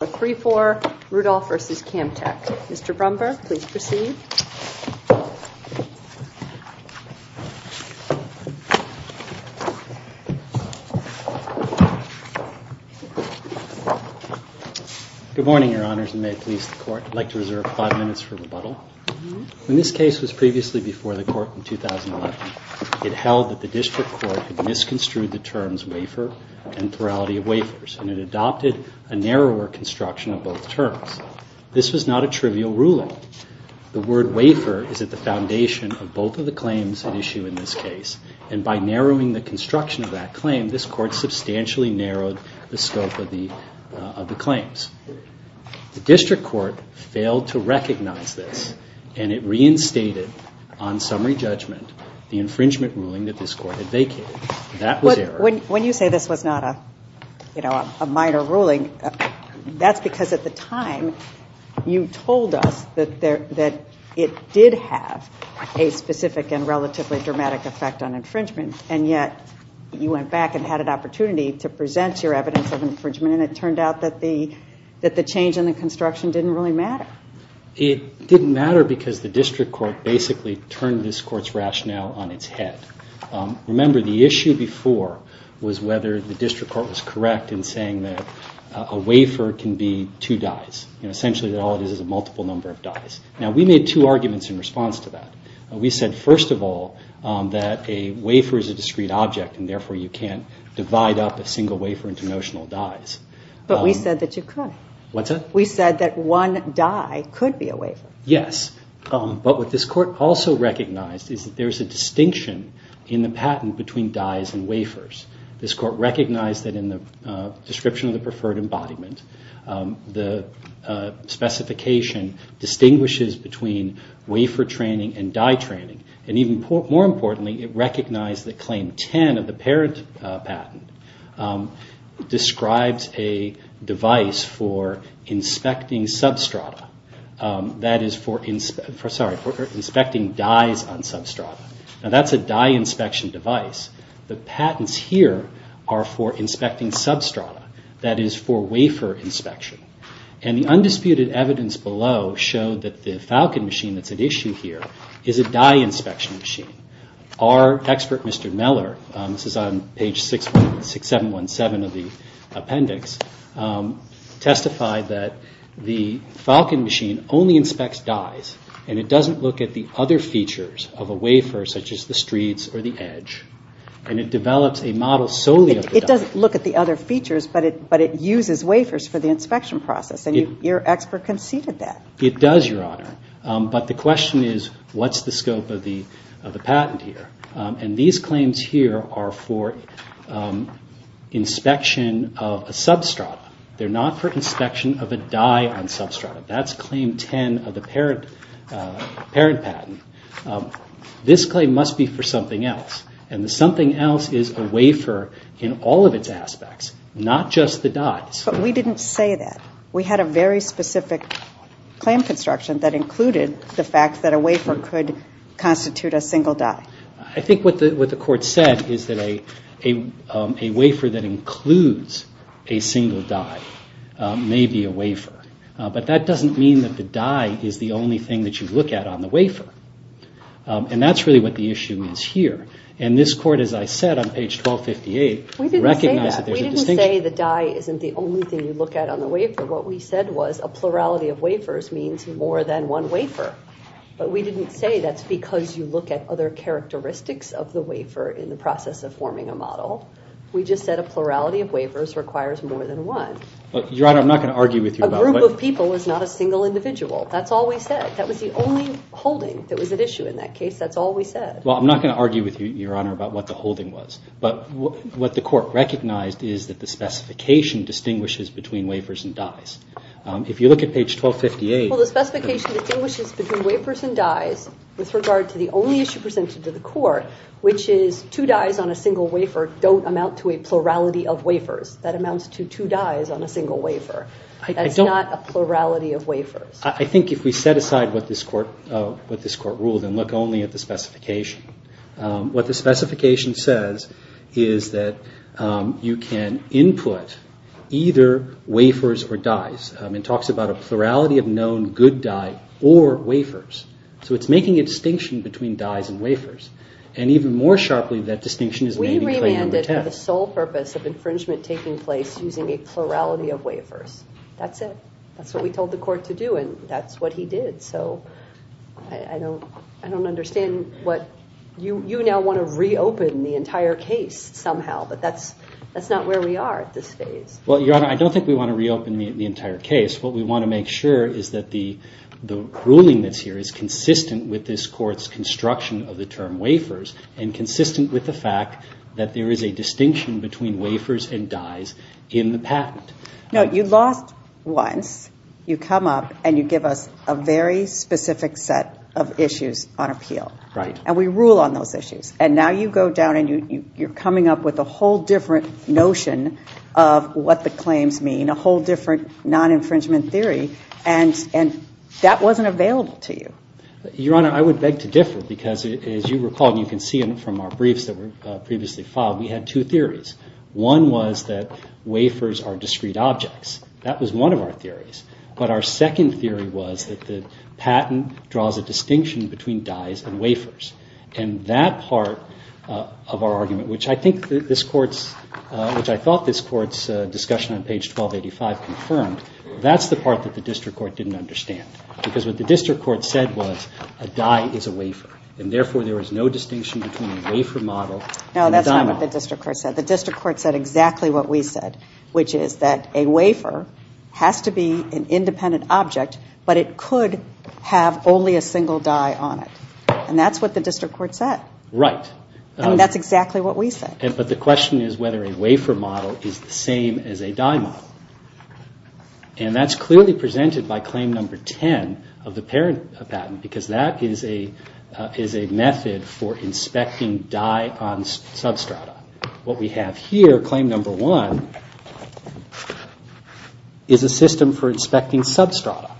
3-4 Rudolph v. Camtek. Mr. Brumberg, please proceed. Good morning, Your Honors, and may it please the Court, I'd like to reserve five minutes for rebuttal. When this case was previously before the Court in 2011, it held that the District Court had misconstrued the terms of wafer and plurality of wafers, and it adopted a narrower construction of both terms. This was not a trivial ruling. The word wafer is at the foundation of both of the claims at issue in this case, and by narrowing the construction of that claim, this Court substantially narrowed the scope of the claims. The District Court failed to recognize this, and it reinstated on summary judgment the infringement ruling that this Court had vacated. When you say this was not a minor ruling, that's because at the time you told us that it did have a specific and relatively dramatic effect on infringement, and yet you went back and had an opportunity to present your evidence of infringement, and it turned out that the change in the construction didn't really matter. It didn't matter because the District Court basically turned this Court's rationale on its head. Remember, the issue before was whether the District Court was correct in saying that a wafer can be two dyes, and essentially that all it is is a multiple number of dyes. Now, we made two arguments in response to that. We said, first of all, that a wafer is a discrete object, and therefore you can't divide up a single wafer into notional dyes. But we said that you could. What's that? We said that one dye could be a wafer. Yes. But what this Court also recognized is that there's a distinction in the patent between dyes and wafers. This Court recognized that in the description of the preferred embodiment, the specification distinguishes between wafer training and dye training. And even more importantly, it recognized that Claim 10 of the parent patent describes a device for inspecting substrata. That is for inspecting dyes on substrata. Now, that's a dye inspection device. The patents here are for inspecting substrata. That is for wafer inspection. And the undisputed evidence below showed that the Falcon machine that's at issue here is a dye inspection machine. Our expert, Mr. Meller, this is on page 6717 of the appendix, testified that the Falcon machine only inspects dyes, and it doesn't look at the other features of a wafer, such as the streets or the edge. And it develops a model solely of the dye. It doesn't look at the other features, but it uses wafers for the inspection process. And your expert conceded that. It does, Your Honor. But the question is, what's the scope of the patent here? And these claims here are for inspection of a substrata. They're not for inspection of a dye on substrata. That's Claim 10 of the parent patent. This claim must be for something else. And the something else is a wafer in all of its aspects, not just the dyes. But we didn't say that. We had a very specific claim construction that included the fact that a wafer could constitute a single dye. I think what the Court said is that a wafer that includes a single dye may be a wafer. But that doesn't mean that the dye is the only thing that you look at on the wafer. And that's really what the issue is here. And this Court, as I said on page 1258, recognized that there's a distinction. We didn't say the dye isn't the only thing you look at on the wafer. What we said was a plurality of wafers means more than one wafer. But we didn't say that's because you look at other characteristics of the wafer in the process of forming a model. We just said a plurality of wafers requires more than one. Your Honor, I'm not going to argue with you about that. A group of people is not a single individual. That's all we said. That was the only holding that was at issue in that case. That's all we said. Well, I'm not going to argue with you, Your Honor, about what the holding was. But what the Court recognized is that the specification distinguishes between wafers and dyes. If you look at page 1258- Well, the specification distinguishes between wafers and dyes with regard to the only issue presented to the Court, which is two dyes on a single wafer don't amount to a plurality of wafers. That amounts to two dyes on a single wafer. That's not a plurality of wafers. I think if we set aside what this Court ruled and look only at the specification, what the specification says is that you can input either wafers or dyes. It talks about a plurality of known good dye or wafers. So it's making a distinction between dyes and wafers. And even more sharply, that distinction is made in claim number 10. We remanded for the sole purpose of infringement taking place using a plurality of wafers. That's it. That's what we told the Court to do, and that's what he did. So I don't understand what- You now want to reopen the entire case somehow, but that's not where we are at this phase. Well, Your Honor, I don't think we want to reopen the entire case. What we want to make sure is that the ruling that's here is consistent with this Court's construction of the term wafers and consistent with the fact that there is a distinction between wafers and dyes in the patent. No, you lost once. You come up and you give us a very specific set of issues on appeal. Right. And we rule on those issues. And now you go down and you're coming up with a whole different notion of what the claims mean, a whole different non-infringement theory, and that wasn't available to you. Your Honor, I would beg to differ because, as you recall, and you can see from our briefs that were previously filed, we had two theories. One was that wafers are discrete objects. That was one of our theories. But our second theory was that the patent draws a distinction between dyes and wafers. And that part of our argument, which I think this Court's- which I thought this Court's discussion on page 1285 confirmed, that's the part that the district court didn't understand, because what the district court said was a dye is a wafer, and therefore there is no distinction between a wafer model- No, that's not what the district court said. The district court said exactly what we said, which is that a wafer has to be an independent object, but it could have only a single dye on it. And that's what the district court said. Right. And that's exactly what we said. But the question is whether a wafer model is the same as a dye model. And that's clearly presented by claim number 10 of the parent patent, because that is a method for inspecting dye on substrata. What we have here, claim number 1, is a system for inspecting substrata.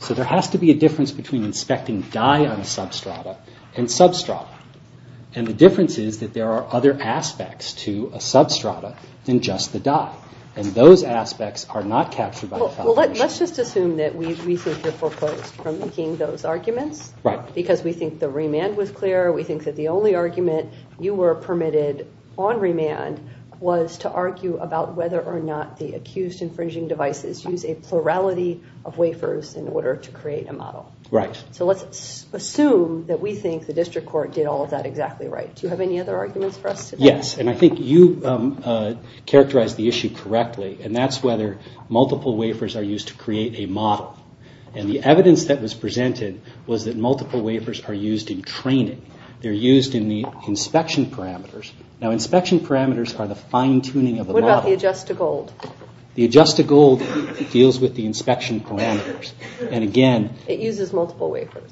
So there has to be a difference between inspecting dye on a substrata and substrata. And the difference is that there are other aspects to a substrata than just the dye. And those aspects are not captured by the foundation. Well, let's just assume that we think you're foreclosed from making those arguments. Right. Because we think the remand was clear, we think that the only argument you were permitted on remand was to argue about whether or not the accused infringing devices use a plurality of wafers in order to create a model. Right. So let's assume that we think the district court did all of that exactly right. Do you have any other arguments for us today? Yes, and I think you characterized the issue correctly, and that's whether multiple wafers are used to create a model. And the evidence that was presented was that multiple wafers are used in training. They're used in the inspection parameters. Now, inspection parameters are the fine-tuning of the model. What about the adjust-to-gold? The adjust-to-gold deals with the inspection parameters. And again... It uses multiple wafers.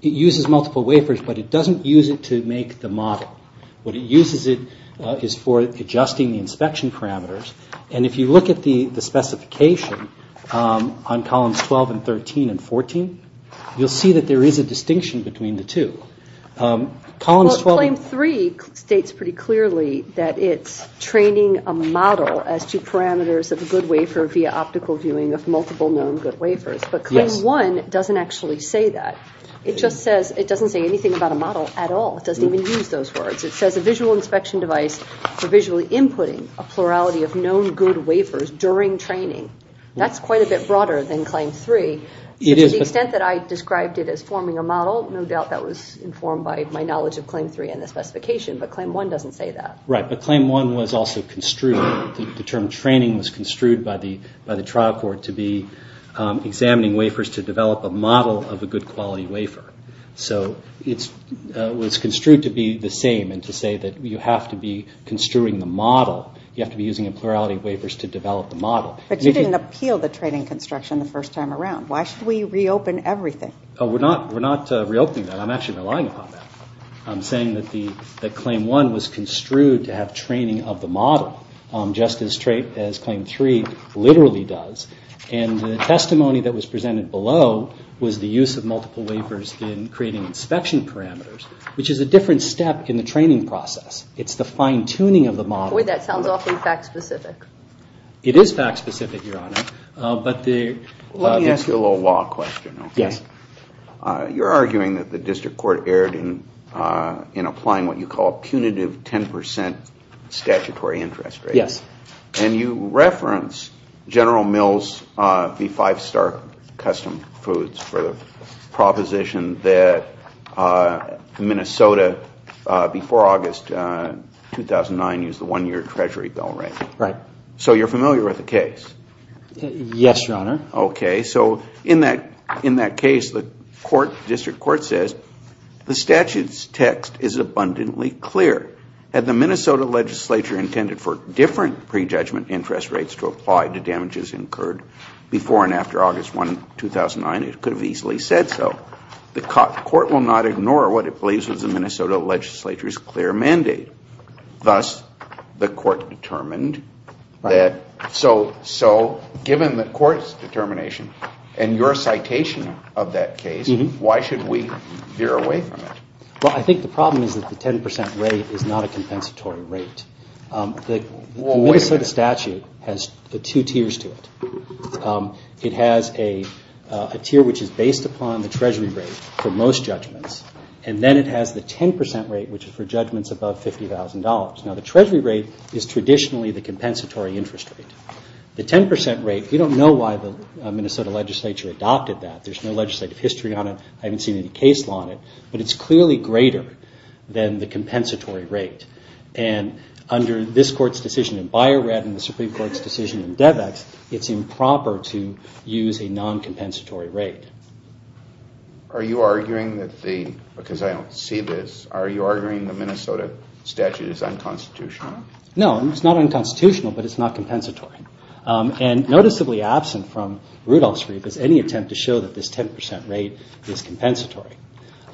It uses multiple wafers, but it doesn't use it to make the model. What it uses is for adjusting the inspection parameters. And if you look at the specification on columns 12 and 13 and 14, you'll see that there is a distinction between the two. Well, claim 3 states pretty clearly that it's training a model as two parameters of a good wafer via optical viewing of multiple known good wafers. But claim 1 doesn't actually say that. It just says it doesn't say anything about a model at all. It doesn't even use those words. It says a visual inspection device for visually inputting a plurality of known good wafers during training. That's quite a bit broader than claim 3. To the extent that I described it as forming a model, no doubt that was informed by my knowledge of claim 3 and the specification. But claim 1 doesn't say that. Right. But claim 1 was also construed. The term training was construed by the trial court to be examining wafers to develop a model of a good quality wafer. So it was construed to be the same and to say that you have to be construing the model. You have to be using a plurality of wafers to develop the model. But you didn't appeal the training construction the first time around. Why should we reopen everything? We're not reopening that. I'm actually relying upon that. I'm saying that claim 1 was construed to have training of the model just as claim 3 literally does. And the testimony that was presented below was the use of multiple wafers in creating inspection parameters, which is a different step in the training process. It's the fine-tuning of the model. Boy, that sounds awfully fact-specific. It is fact-specific, Your Honor. Let me ask you a little law question. Yes. You're arguing that the district court erred in applying what you call a punitive 10 percent statutory interest rate. Yes. And you reference General Mills v. Five Star Custom Foods for the proposition that Minnesota, before August 2009, used the one-year Treasury bill, right? Right. So you're familiar with the case? Yes, Your Honor. Okay. So in that case, the district court says the statute's text is abundantly clear. Had the Minnesota legislature intended for different prejudgment interest rates to apply to damages incurred before and after August 1, 2009, it could have easily said so. The court will not ignore what it believes is the Minnesota legislature's clear mandate. Thus, the court determined that so given the court's determination and your citation of that case, why should we veer away from it? Well, I think the problem is that the 10 percent rate is not a compensatory rate. The Minnesota statute has two tiers to it. It has a tier which is based upon the Treasury rate for most judgments, and then it has the 10 percent rate, which is for judgments above $50,000. Now, the Treasury rate is traditionally the compensatory interest rate. The 10 percent rate, we don't know why the Minnesota legislature adopted that. There's no legislative history on it. I haven't seen any case law on it. But it's clearly greater than the compensatory rate. And under this court's decision in Bio-Red and the Supreme Court's decision in Debex, it's improper to use a non-compensatory rate. Are you arguing that the, because I don't see this, are you arguing the Minnesota statute is unconstitutional? No, it's not unconstitutional, but it's not compensatory. And noticeably absent from Rudolph's brief is any attempt to show that this 10 percent rate is compensatory.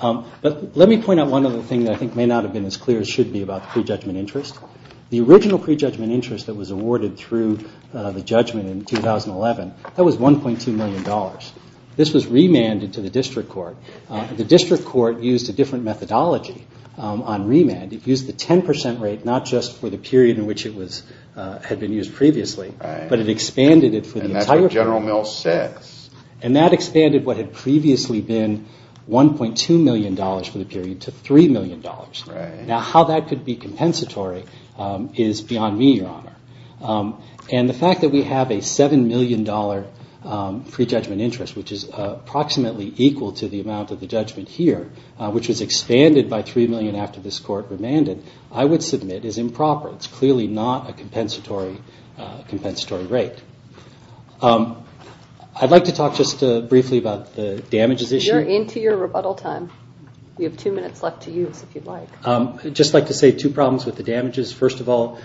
But let me point out one other thing that I think may not have been as clear as should be about the prejudgment interest. The original prejudgment interest that was awarded through the judgment in 2011, that was $1.2 million. This was remanded to the district court. The district court used a different methodology on remand. It used the 10 percent rate not just for the period in which it had been used previously, but it expanded it for the entire period. And that's what General Mills says. And that expanded what had previously been $1.2 million for the period to $3 million. Now how that could be compensatory is beyond me, Your Honor. And the fact that we have a $7 million prejudgment interest, which is approximately equal to the amount of the judgment here, which was expanded by $3 million after this court remanded, I would submit is improper. It's clearly not a compensatory rate. I'd like to talk just briefly about the damages issue. You're into your rebuttal time. We have two minutes left to use if you'd like. I'd just like to say two problems with the damages. First of all,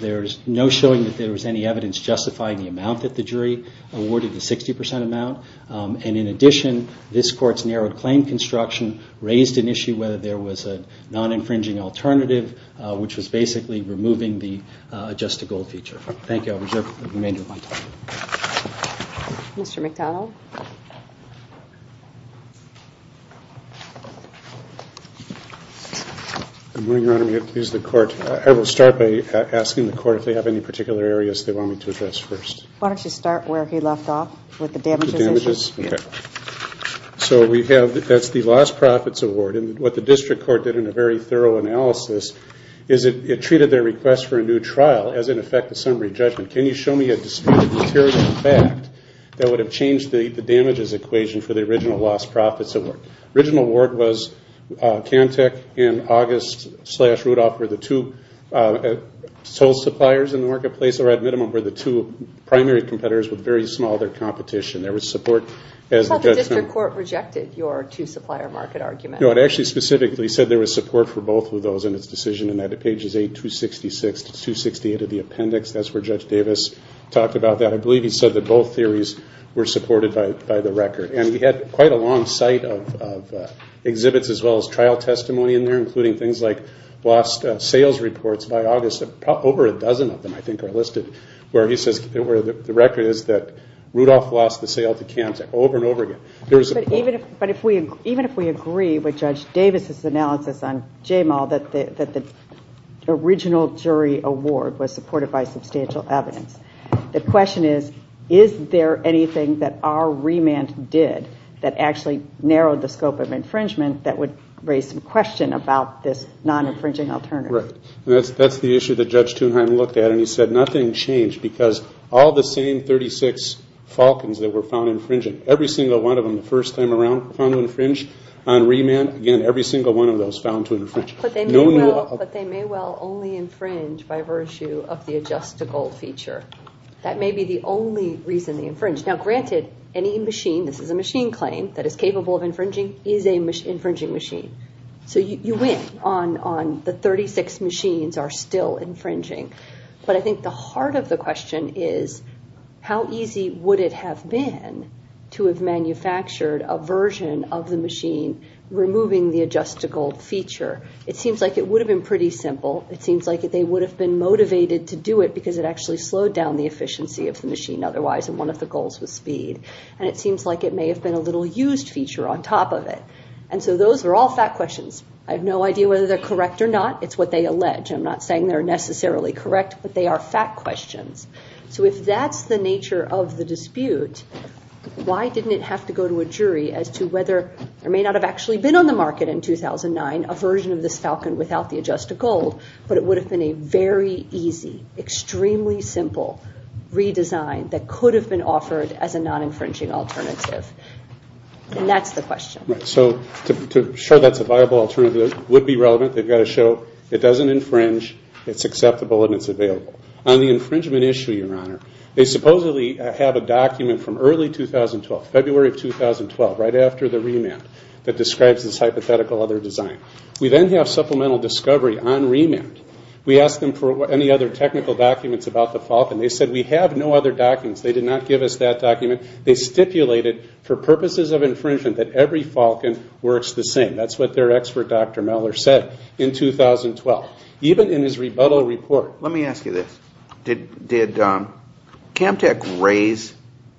there's no showing that there was any evidence justifying the amount that the jury awarded, the 60 percent amount. And in addition, this court's narrowed claim construction raised an issue whether there was a non-infringing alternative, which was basically removing the adjust to gold feature. Thank you. I'll reserve the remainder of my time. Mr. McDonnell. Good morning, Your Honor. May it please the Court. I will start by asking the Court if they have any particular areas they want me to address first. Why don't you start where he left off with the damages issue. The damages. Okay. So we have, that's the lost profits award. And what the district court did in a very thorough analysis is it treated their request for a new trial as, in effect, a summary judgment. Can you show me a disputed material fact that would have changed the damages equation for the original lost profits award? The original award was Kantech and August slash Rudolph were the two sole suppliers in the marketplace, or at minimum were the two primary competitors with very small of their competition. There was support as the judgment. But the district court rejected your two supplier market argument. No, it actually specifically said there was support for both of those in its decision. And at pages 8-266 to 268 of the appendix, that's where Judge Davis talked about that. I believe he said that both theories were supported by the record. And we had quite a long site of exhibits as well as trial testimony in there, including things like lost sales reports by August. Over a dozen of them, I think, are listed where he says the record is that Rudolph lost the sale to Kantech over and over again. But even if we agree with Judge Davis' analysis on JMAL that the original jury award was supported by substantial evidence, the question is, is there anything that our remand did that actually narrowed the scope of infringement that would raise some question about this non-infringing alternative? Right. That's the issue that Judge Thunheim looked at. And he said nothing changed because all the same 36 falcons that were found infringing, every single one of them the first time around found to infringe on remand. Again, every single one of those found to infringe. But they may well only infringe by virtue of the adjustable feature. That may be the only reason they infringe. Now, granted, any machine, this is a machine claim, that is capable of infringing is an infringing machine. So you win on the 36 machines are still infringing. But I think the heart of the question is how easy would it have been to have manufactured a version of the machine removing the adjustable feature? It seems like it would have been pretty simple. It seems like they would have been motivated to do it because it actually slowed down the efficiency of the machine. Otherwise, one of the goals was speed. And it seems like it may have been a little used feature on top of it. And so those are all fact questions. I have no idea whether they're correct or not. It's what they allege. I'm not saying they're necessarily correct. But they are fact questions. So if that's the nature of the dispute, why didn't it have to go to a jury as to whether or may not have actually been on the market in 2009, a version of this falcon without the adjustable, but it would have been a very easy, extremely simple redesign that could have been offered as a non-infringing alternative. And that's the question. So to show that's a viable alternative, it would be relevant. They've got to show it doesn't infringe, it's acceptable, and it's available. On the infringement issue, Your Honor, they supposedly have a document from early 2012, February of 2012, right after the remand that describes this hypothetical other design. We then have supplemental discovery on remand. We asked them for any other technical documents about the falcon. They said, we have no other documents. They did not give us that document. They stipulated for purposes of infringement that every falcon works the same. That's what their expert, Dr. Meller, said in 2012. Even in his rebuttal report. Let me ask you this. Did CAMTC raise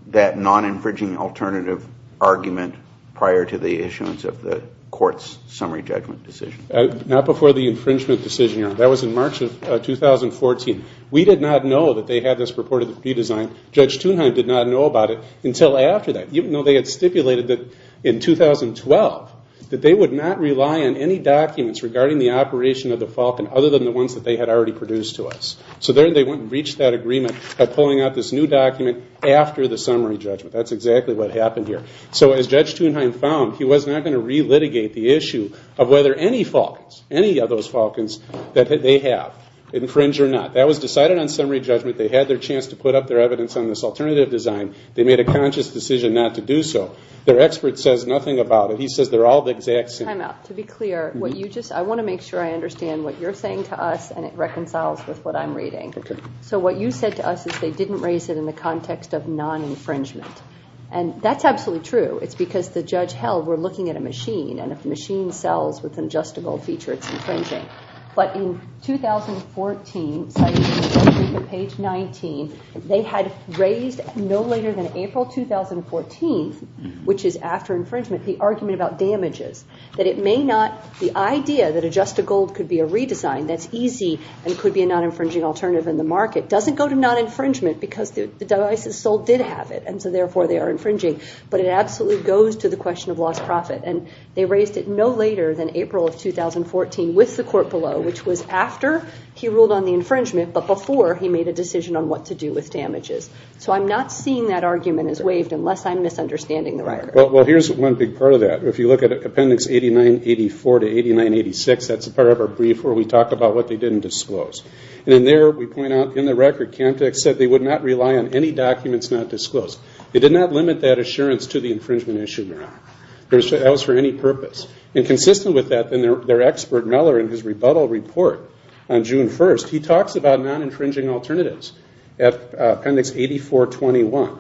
that non-infringing alternative argument prior to the issuance of the court's summary judgment decision? Not before the infringement decision, Your Honor. That was in March of 2014. We did not know that they had this purported redesign. Judge Thunheim did not know about it until after that. Even though they had stipulated that in 2012 that they would not rely on any documents regarding the operation of the falcon other than the ones that they had already produced to us. So then they went and reached that agreement by pulling out this new document after the summary judgment. That's exactly what happened here. So as Judge Thunheim found, he was not going to re-litigate the issue of whether any falcons, any of those falcons that they have, infringe or not. That was decided on summary judgment. They had their chance to put up their evidence on this alternative design. They made a conscious decision not to do so. Their expert says nothing about it. He says they're all the exact same. To be clear, I want to make sure I understand what you're saying to us, and it reconciles with what I'm reading. So what you said to us is they didn't raise it in the context of non-infringement. And that's absolutely true. It's because the judge held we're looking at a machine, and if the machine sells with an adjustable feature, it's infringing. But in 2014, cited in page 19, they had raised no later than April 2014, which is after infringement, the argument about damages, that it may not, the idea that adjustable could be a redesign, that's easy and could be a non-infringing alternative in the market, doesn't go to non-infringement because the device is sold did have it, and so therefore they are infringing. But it absolutely goes to the question of lost profit. And they raised it no later than April of 2014 with the court below, which was after he ruled on the infringement, but before he made a decision on what to do with damages. So I'm not seeing that argument as waived unless I'm misunderstanding the record. Well, here's one big part of that. If you look at Appendix 8984 to 8986, that's the part of our brief where we talk about what they didn't disclose. And in there, we point out in the record, Camtek said they would not rely on any documents not disclosed. They did not limit that assurance to the infringement issue, Your Honor. That was for any purpose. And consistent with that, their expert, Meller, in his rebuttal report on June 1st, he talks about non-infringing alternatives at Appendix 8421.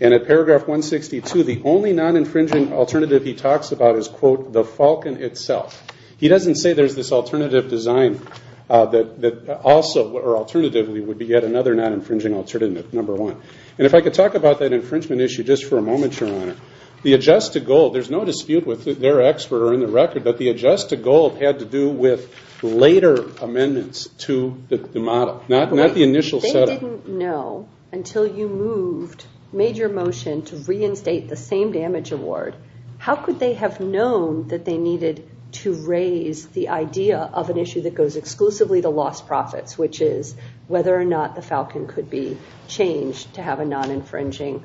And at Paragraph 162, the only non-infringing alternative he talks about is, quote, the falcon itself. He doesn't say there's this alternative design that also, or alternatively, would be yet another non-infringing alternative, number one. And if I could talk about that infringement issue just for a moment, Your Honor, the adjust to gold, there's no dispute with their expert or in the record, but the adjust to gold had to do with later amendments to the model, not the initial settlement. If they didn't know until you moved, made your motion to reinstate the same damage award, how could they have known that they needed to raise the idea of an issue that goes exclusively to lost profits, which is whether or not the falcon could be changed to have a non-infringing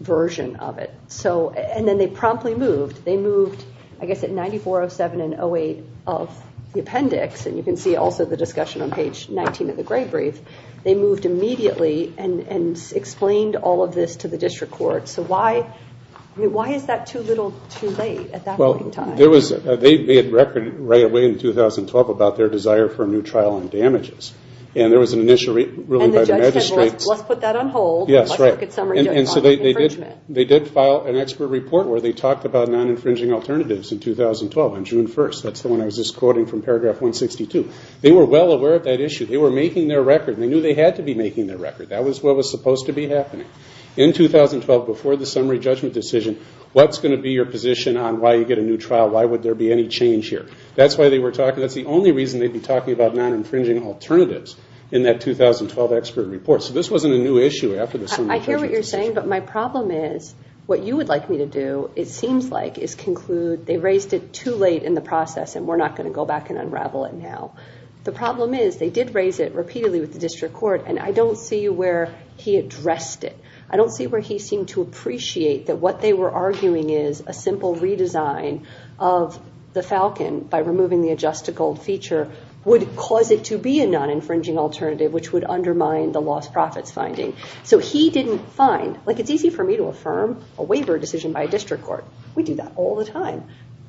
version of it? And then they promptly moved. They moved, I guess, at 9407 and 08 of the appendix, and you can see also the discussion on page 19 of the Gray Brief, they moved immediately and explained all of this to the district court. So why is that too little too late at that point in time? Well, they had a record right away in 2012 about their desire for a new trial on damages, and there was an initial ruling by the magistrates. And the judge said, well, let's put that on hold. Let's look at summary judgment on infringement. They did file an expert report where they talked about non-infringing alternatives in 2012 on June 1st. That's the one I was just quoting from paragraph 162. They were well aware of that issue. They were making their record, and they knew they had to be making their record. That was what was supposed to be happening. In 2012, before the summary judgment decision, what's going to be your position on why you get a new trial? Why would there be any change here? That's why they were talking. That's the only reason they'd be talking about non-infringing alternatives in that 2012 expert report. So this wasn't a new issue after the summary judgment decision. I hear what you're saying, but my problem is what you would like me to do, it seems like, is conclude they raised it too late in the process and we're not going to go back and unravel it now. The problem is they did raise it repeatedly with the district court, and I don't see where he addressed it. I don't see where he seemed to appreciate that what they were arguing is a simple redesign of the Falcon by removing the adjust to gold feature would cause it to be a non-infringing alternative, which would undermine the lost profits finding. So he didn't find, like it's easy for me to affirm a waiver decision by a district court. We do that all the time.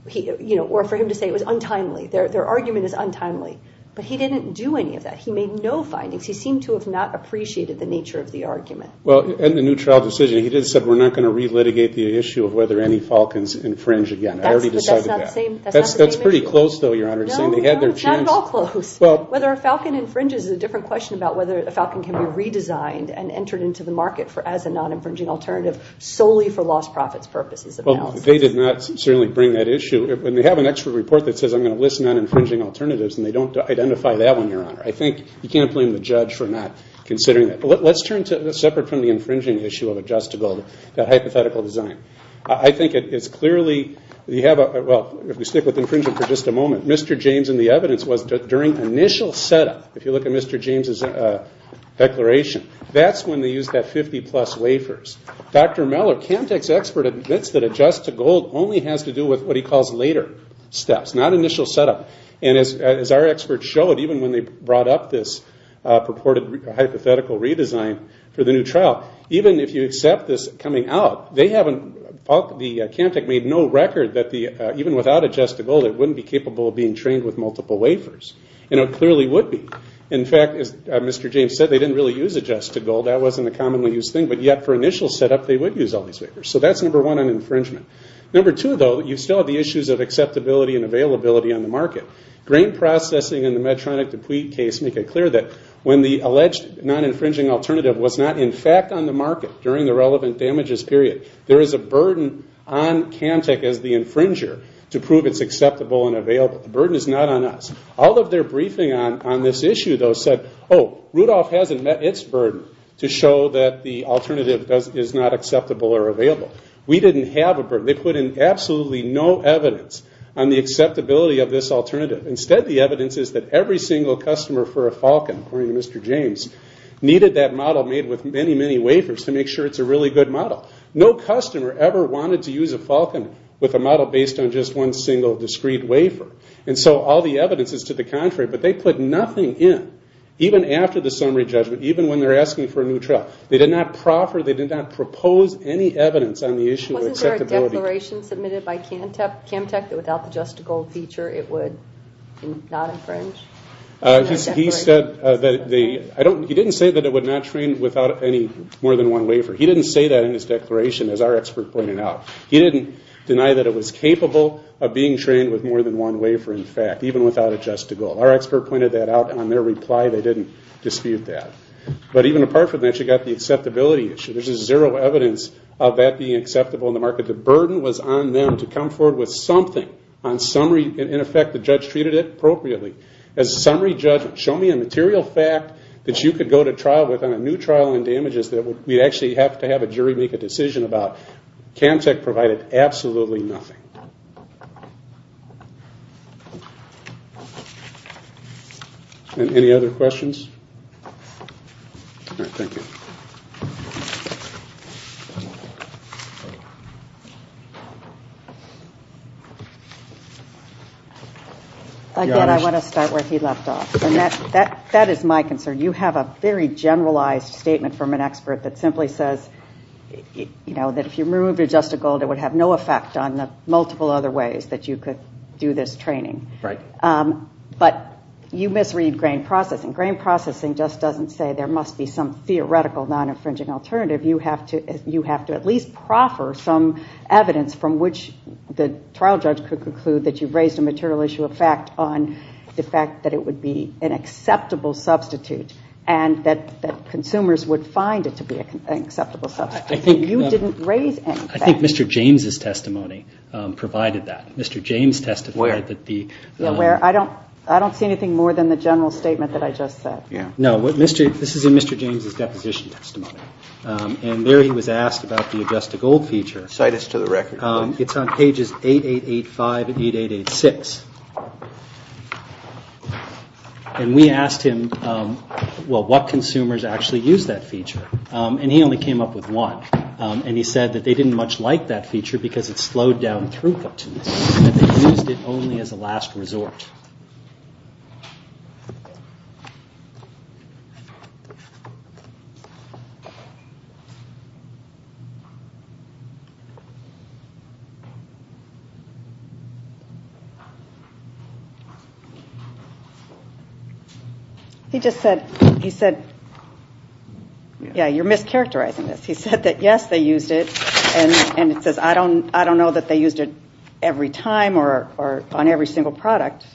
Or for him to say it was untimely. Their argument is untimely. But he didn't do any of that. He made no findings. He seemed to have not appreciated the nature of the argument. Well, in the new trial decision, he did say we're not going to relitigate the issue of whether any Falcons infringe again. I already decided that. That's not the same issue. That's pretty close, though, Your Honor. No, not at all close. Whether a Falcon infringes is a different question about whether a Falcon can be redesigned and entered into the market as a non-infringing alternative solely for lost profits purposes. Well, they did not certainly bring that issue. And they have an extra report that says I'm going to listen on infringing alternatives, and they don't identify that one, Your Honor. I think you can't blame the judge for not considering that. Let's turn to separate from the infringing issue of adjustable, that hypothetical design. I think it's clearly, well, if we stick with infringement for just a moment, Mr. James and the evidence was during initial setup, if you look at Mr. James' declaration, that's when they used that 50-plus wafers. Dr. Meller, CAMTEC's expert, admits that adjust to gold only has to do with what he calls later steps, not initial setup. And as our experts showed, even when they brought up this purported hypothetical redesign for the new trial, even if you accept this coming out, the CAMTEC made no record that even without adjust to gold, it wouldn't be capable of being trained with multiple wafers. And it clearly would be. In fact, as Mr. James said, they didn't really use adjust to gold. That wasn't a commonly used thing. But yet for initial setup, they would use all these wafers. So that's number one on infringement. Number two, though, you still have the issues of acceptability and availability on the market. Grain processing and the Medtronic deplete case make it clear that when the alleged non-infringing alternative was not in fact on the market during the relevant damages period, there is a burden on CAMTEC as the infringer to prove it's acceptable and available. The burden is not on us. All of their briefing on this issue, though, said, oh, Rudolph hasn't met its burden to show that the alternative is not acceptable or available. We didn't have a burden. They put in absolutely no evidence on the acceptability of this alternative. Instead, the evidence is that every single customer for a Falcon, according to Mr. James, needed that model made with many, many wafers to make sure it's a really good model. No customer ever wanted to use a Falcon with a model based on just one single discrete wafer. And so all the evidence is to the contrary. But they put nothing in, even after the summary judgment, even when they're asking for a new trial. They did not proffer, they did not propose any evidence on the issue of acceptability. Wasn't there a declaration submitted by CAMTEC that without the just-to-gold feature, it would not infringe? He didn't say that it would not train without any more than one wafer. He didn't say that in his declaration, as our expert pointed out. He didn't deny that it was capable of being trained with more than one wafer, in fact, even without a just-to-gold. Our expert pointed that out on their reply. They didn't dispute that. But even apart from that, you've got the acceptability issue. There's just zero evidence of that being acceptable in the market. The burden was on them to come forward with something on summary. In effect, the judge treated it appropriately. As a summary judge, show me a material fact that you could go to trial with on a new trial on damages that we'd actually have to have a jury make a decision about. CAMTEC provided absolutely nothing. Any other questions? Again, I want to start where he left off. That is my concern. You have a very generalized statement from an expert that simply says that if you remove your just-to-gold, it would have no effect on the multiple other ways that you could do this training. But you misread grain processing. Grain processing just doesn't say there must be some theoretical non-infringing alternative. You have to at least proffer some evidence from which the trial judge could conclude that you've raised a material issue of fact on the fact that it would be an acceptable substitute and that consumers would find it to be an acceptable substitute. You didn't raise any fact. I think Mr. James' testimony provided that. Where? I don't see anything more than the general statement that I just said. No, this is in Mr. James' deposition testimony. And there he was asked about the just-to-gold feature. Cite us to the record, please. It's on pages 8885 and 8886. And we asked him, well, what consumers actually use that feature? And he only came up with one. And he said that they didn't much like that feature because it slowed down throughput. He said they used it only as a last resort. He just said, he said, yeah, you're mischaracterizing this. He said that, yes, they used it. And it says, I don't know that they used it every time or on every single product.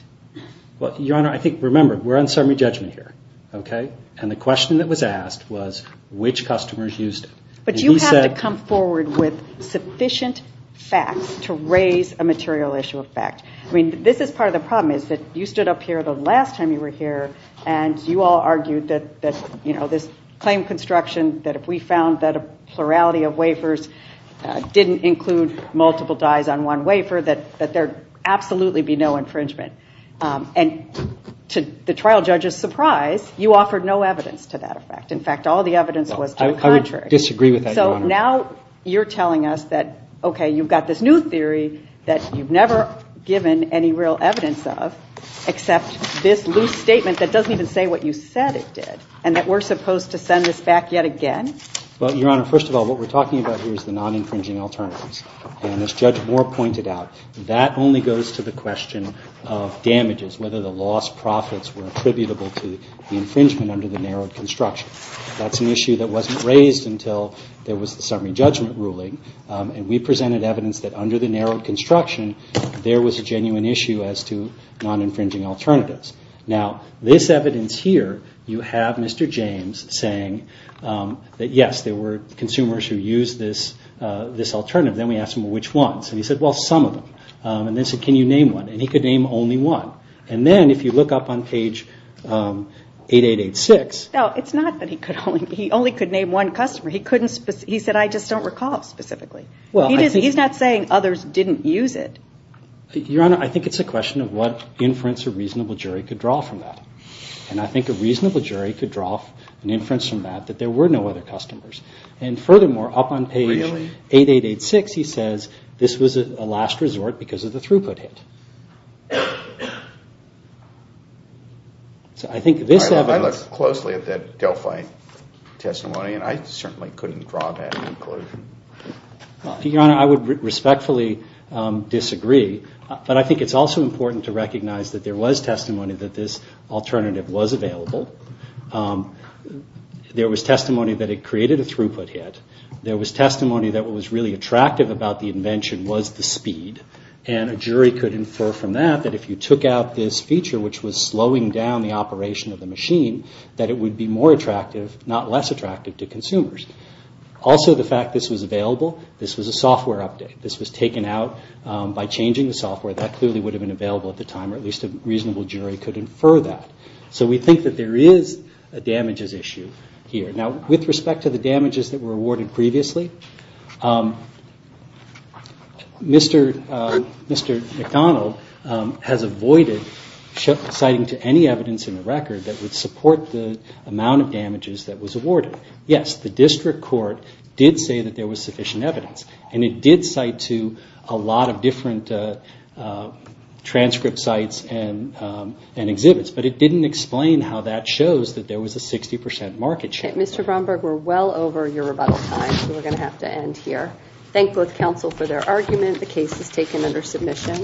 Well, Your Honor, I think, remember, we're on summary judgment here. Okay? And the question that was asked was which customers used it. But you have to come forward with sufficient facts to raise a material issue of fact. I mean, this is part of the problem is that you stood up here the last time you were here and you all argued that this claim construction, that if we found that a plurality of wafers didn't include multiple dyes on one wafer, that there would absolutely be no infringement. And to the trial judge's surprise, you offered no evidence to that effect. In fact, all the evidence was to the contrary. I would disagree with that, Your Honor. So now you're telling us that, okay, you've got this new theory that you've never given any real evidence of except this loose statement that doesn't even say what you said it did and that we're supposed to send this back yet again? Well, Your Honor, first of all, what we're talking about here is the non-infringing alternatives. And as Judge Moore pointed out, that only goes to the question of damages, whether the lost profits were attributable to the infringement under the narrowed construction. That's an issue that wasn't raised until there was the summary judgment ruling. And we presented evidence that under the narrowed construction, there was a genuine issue as to non-infringing alternatives. Now, this evidence here, you have Mr. James saying that, yes, there were consumers who used this alternative. Then we asked him, well, which ones? And he said, well, some of them. And then said, can you name one? And he could name only one. And then if you look up on page 8886. No, it's not that he could only name one customer. He said, I just don't recall specifically. He's not saying others didn't use it. Your Honor, I think it's a question of what inference a reasonable jury could draw from that. And I think a reasonable jury could draw an inference from that that there were no other customers. And furthermore, up on page 8886, he says, this was a last resort because of the throughput hit. I looked closely at that Delphi testimony, and I certainly couldn't draw that conclusion. Your Honor, I would respectfully disagree. But I think it's also important to recognize that there was testimony that this alternative was available. There was testimony that it created a throughput hit. There was testimony that what was really attractive about the invention was the speed. And a jury could infer from that that if you took out this feature, which was slowing down the operation of the machine, that it would be more attractive, not less attractive to consumers. Also, the fact this was available, this was a software update. This was taken out by changing the software. That clearly would have been available at the time, or at least a reasonable jury could infer that. So we think that there is a damages issue here. Now, with respect to the damages that were awarded previously, Mr. McDonald has avoided citing to any evidence in the record that would support the amount of damages that was awarded. Yes, the district court did say that there was sufficient evidence. And it did cite to a lot of different transcript sites and exhibits. But it didn't explain how that shows that there was a 60 percent market share. Mr. Bromberg, we're well over your rebuttal time, so we're going to have to end here. Thank both counsel for their argument. The case is taken under submission.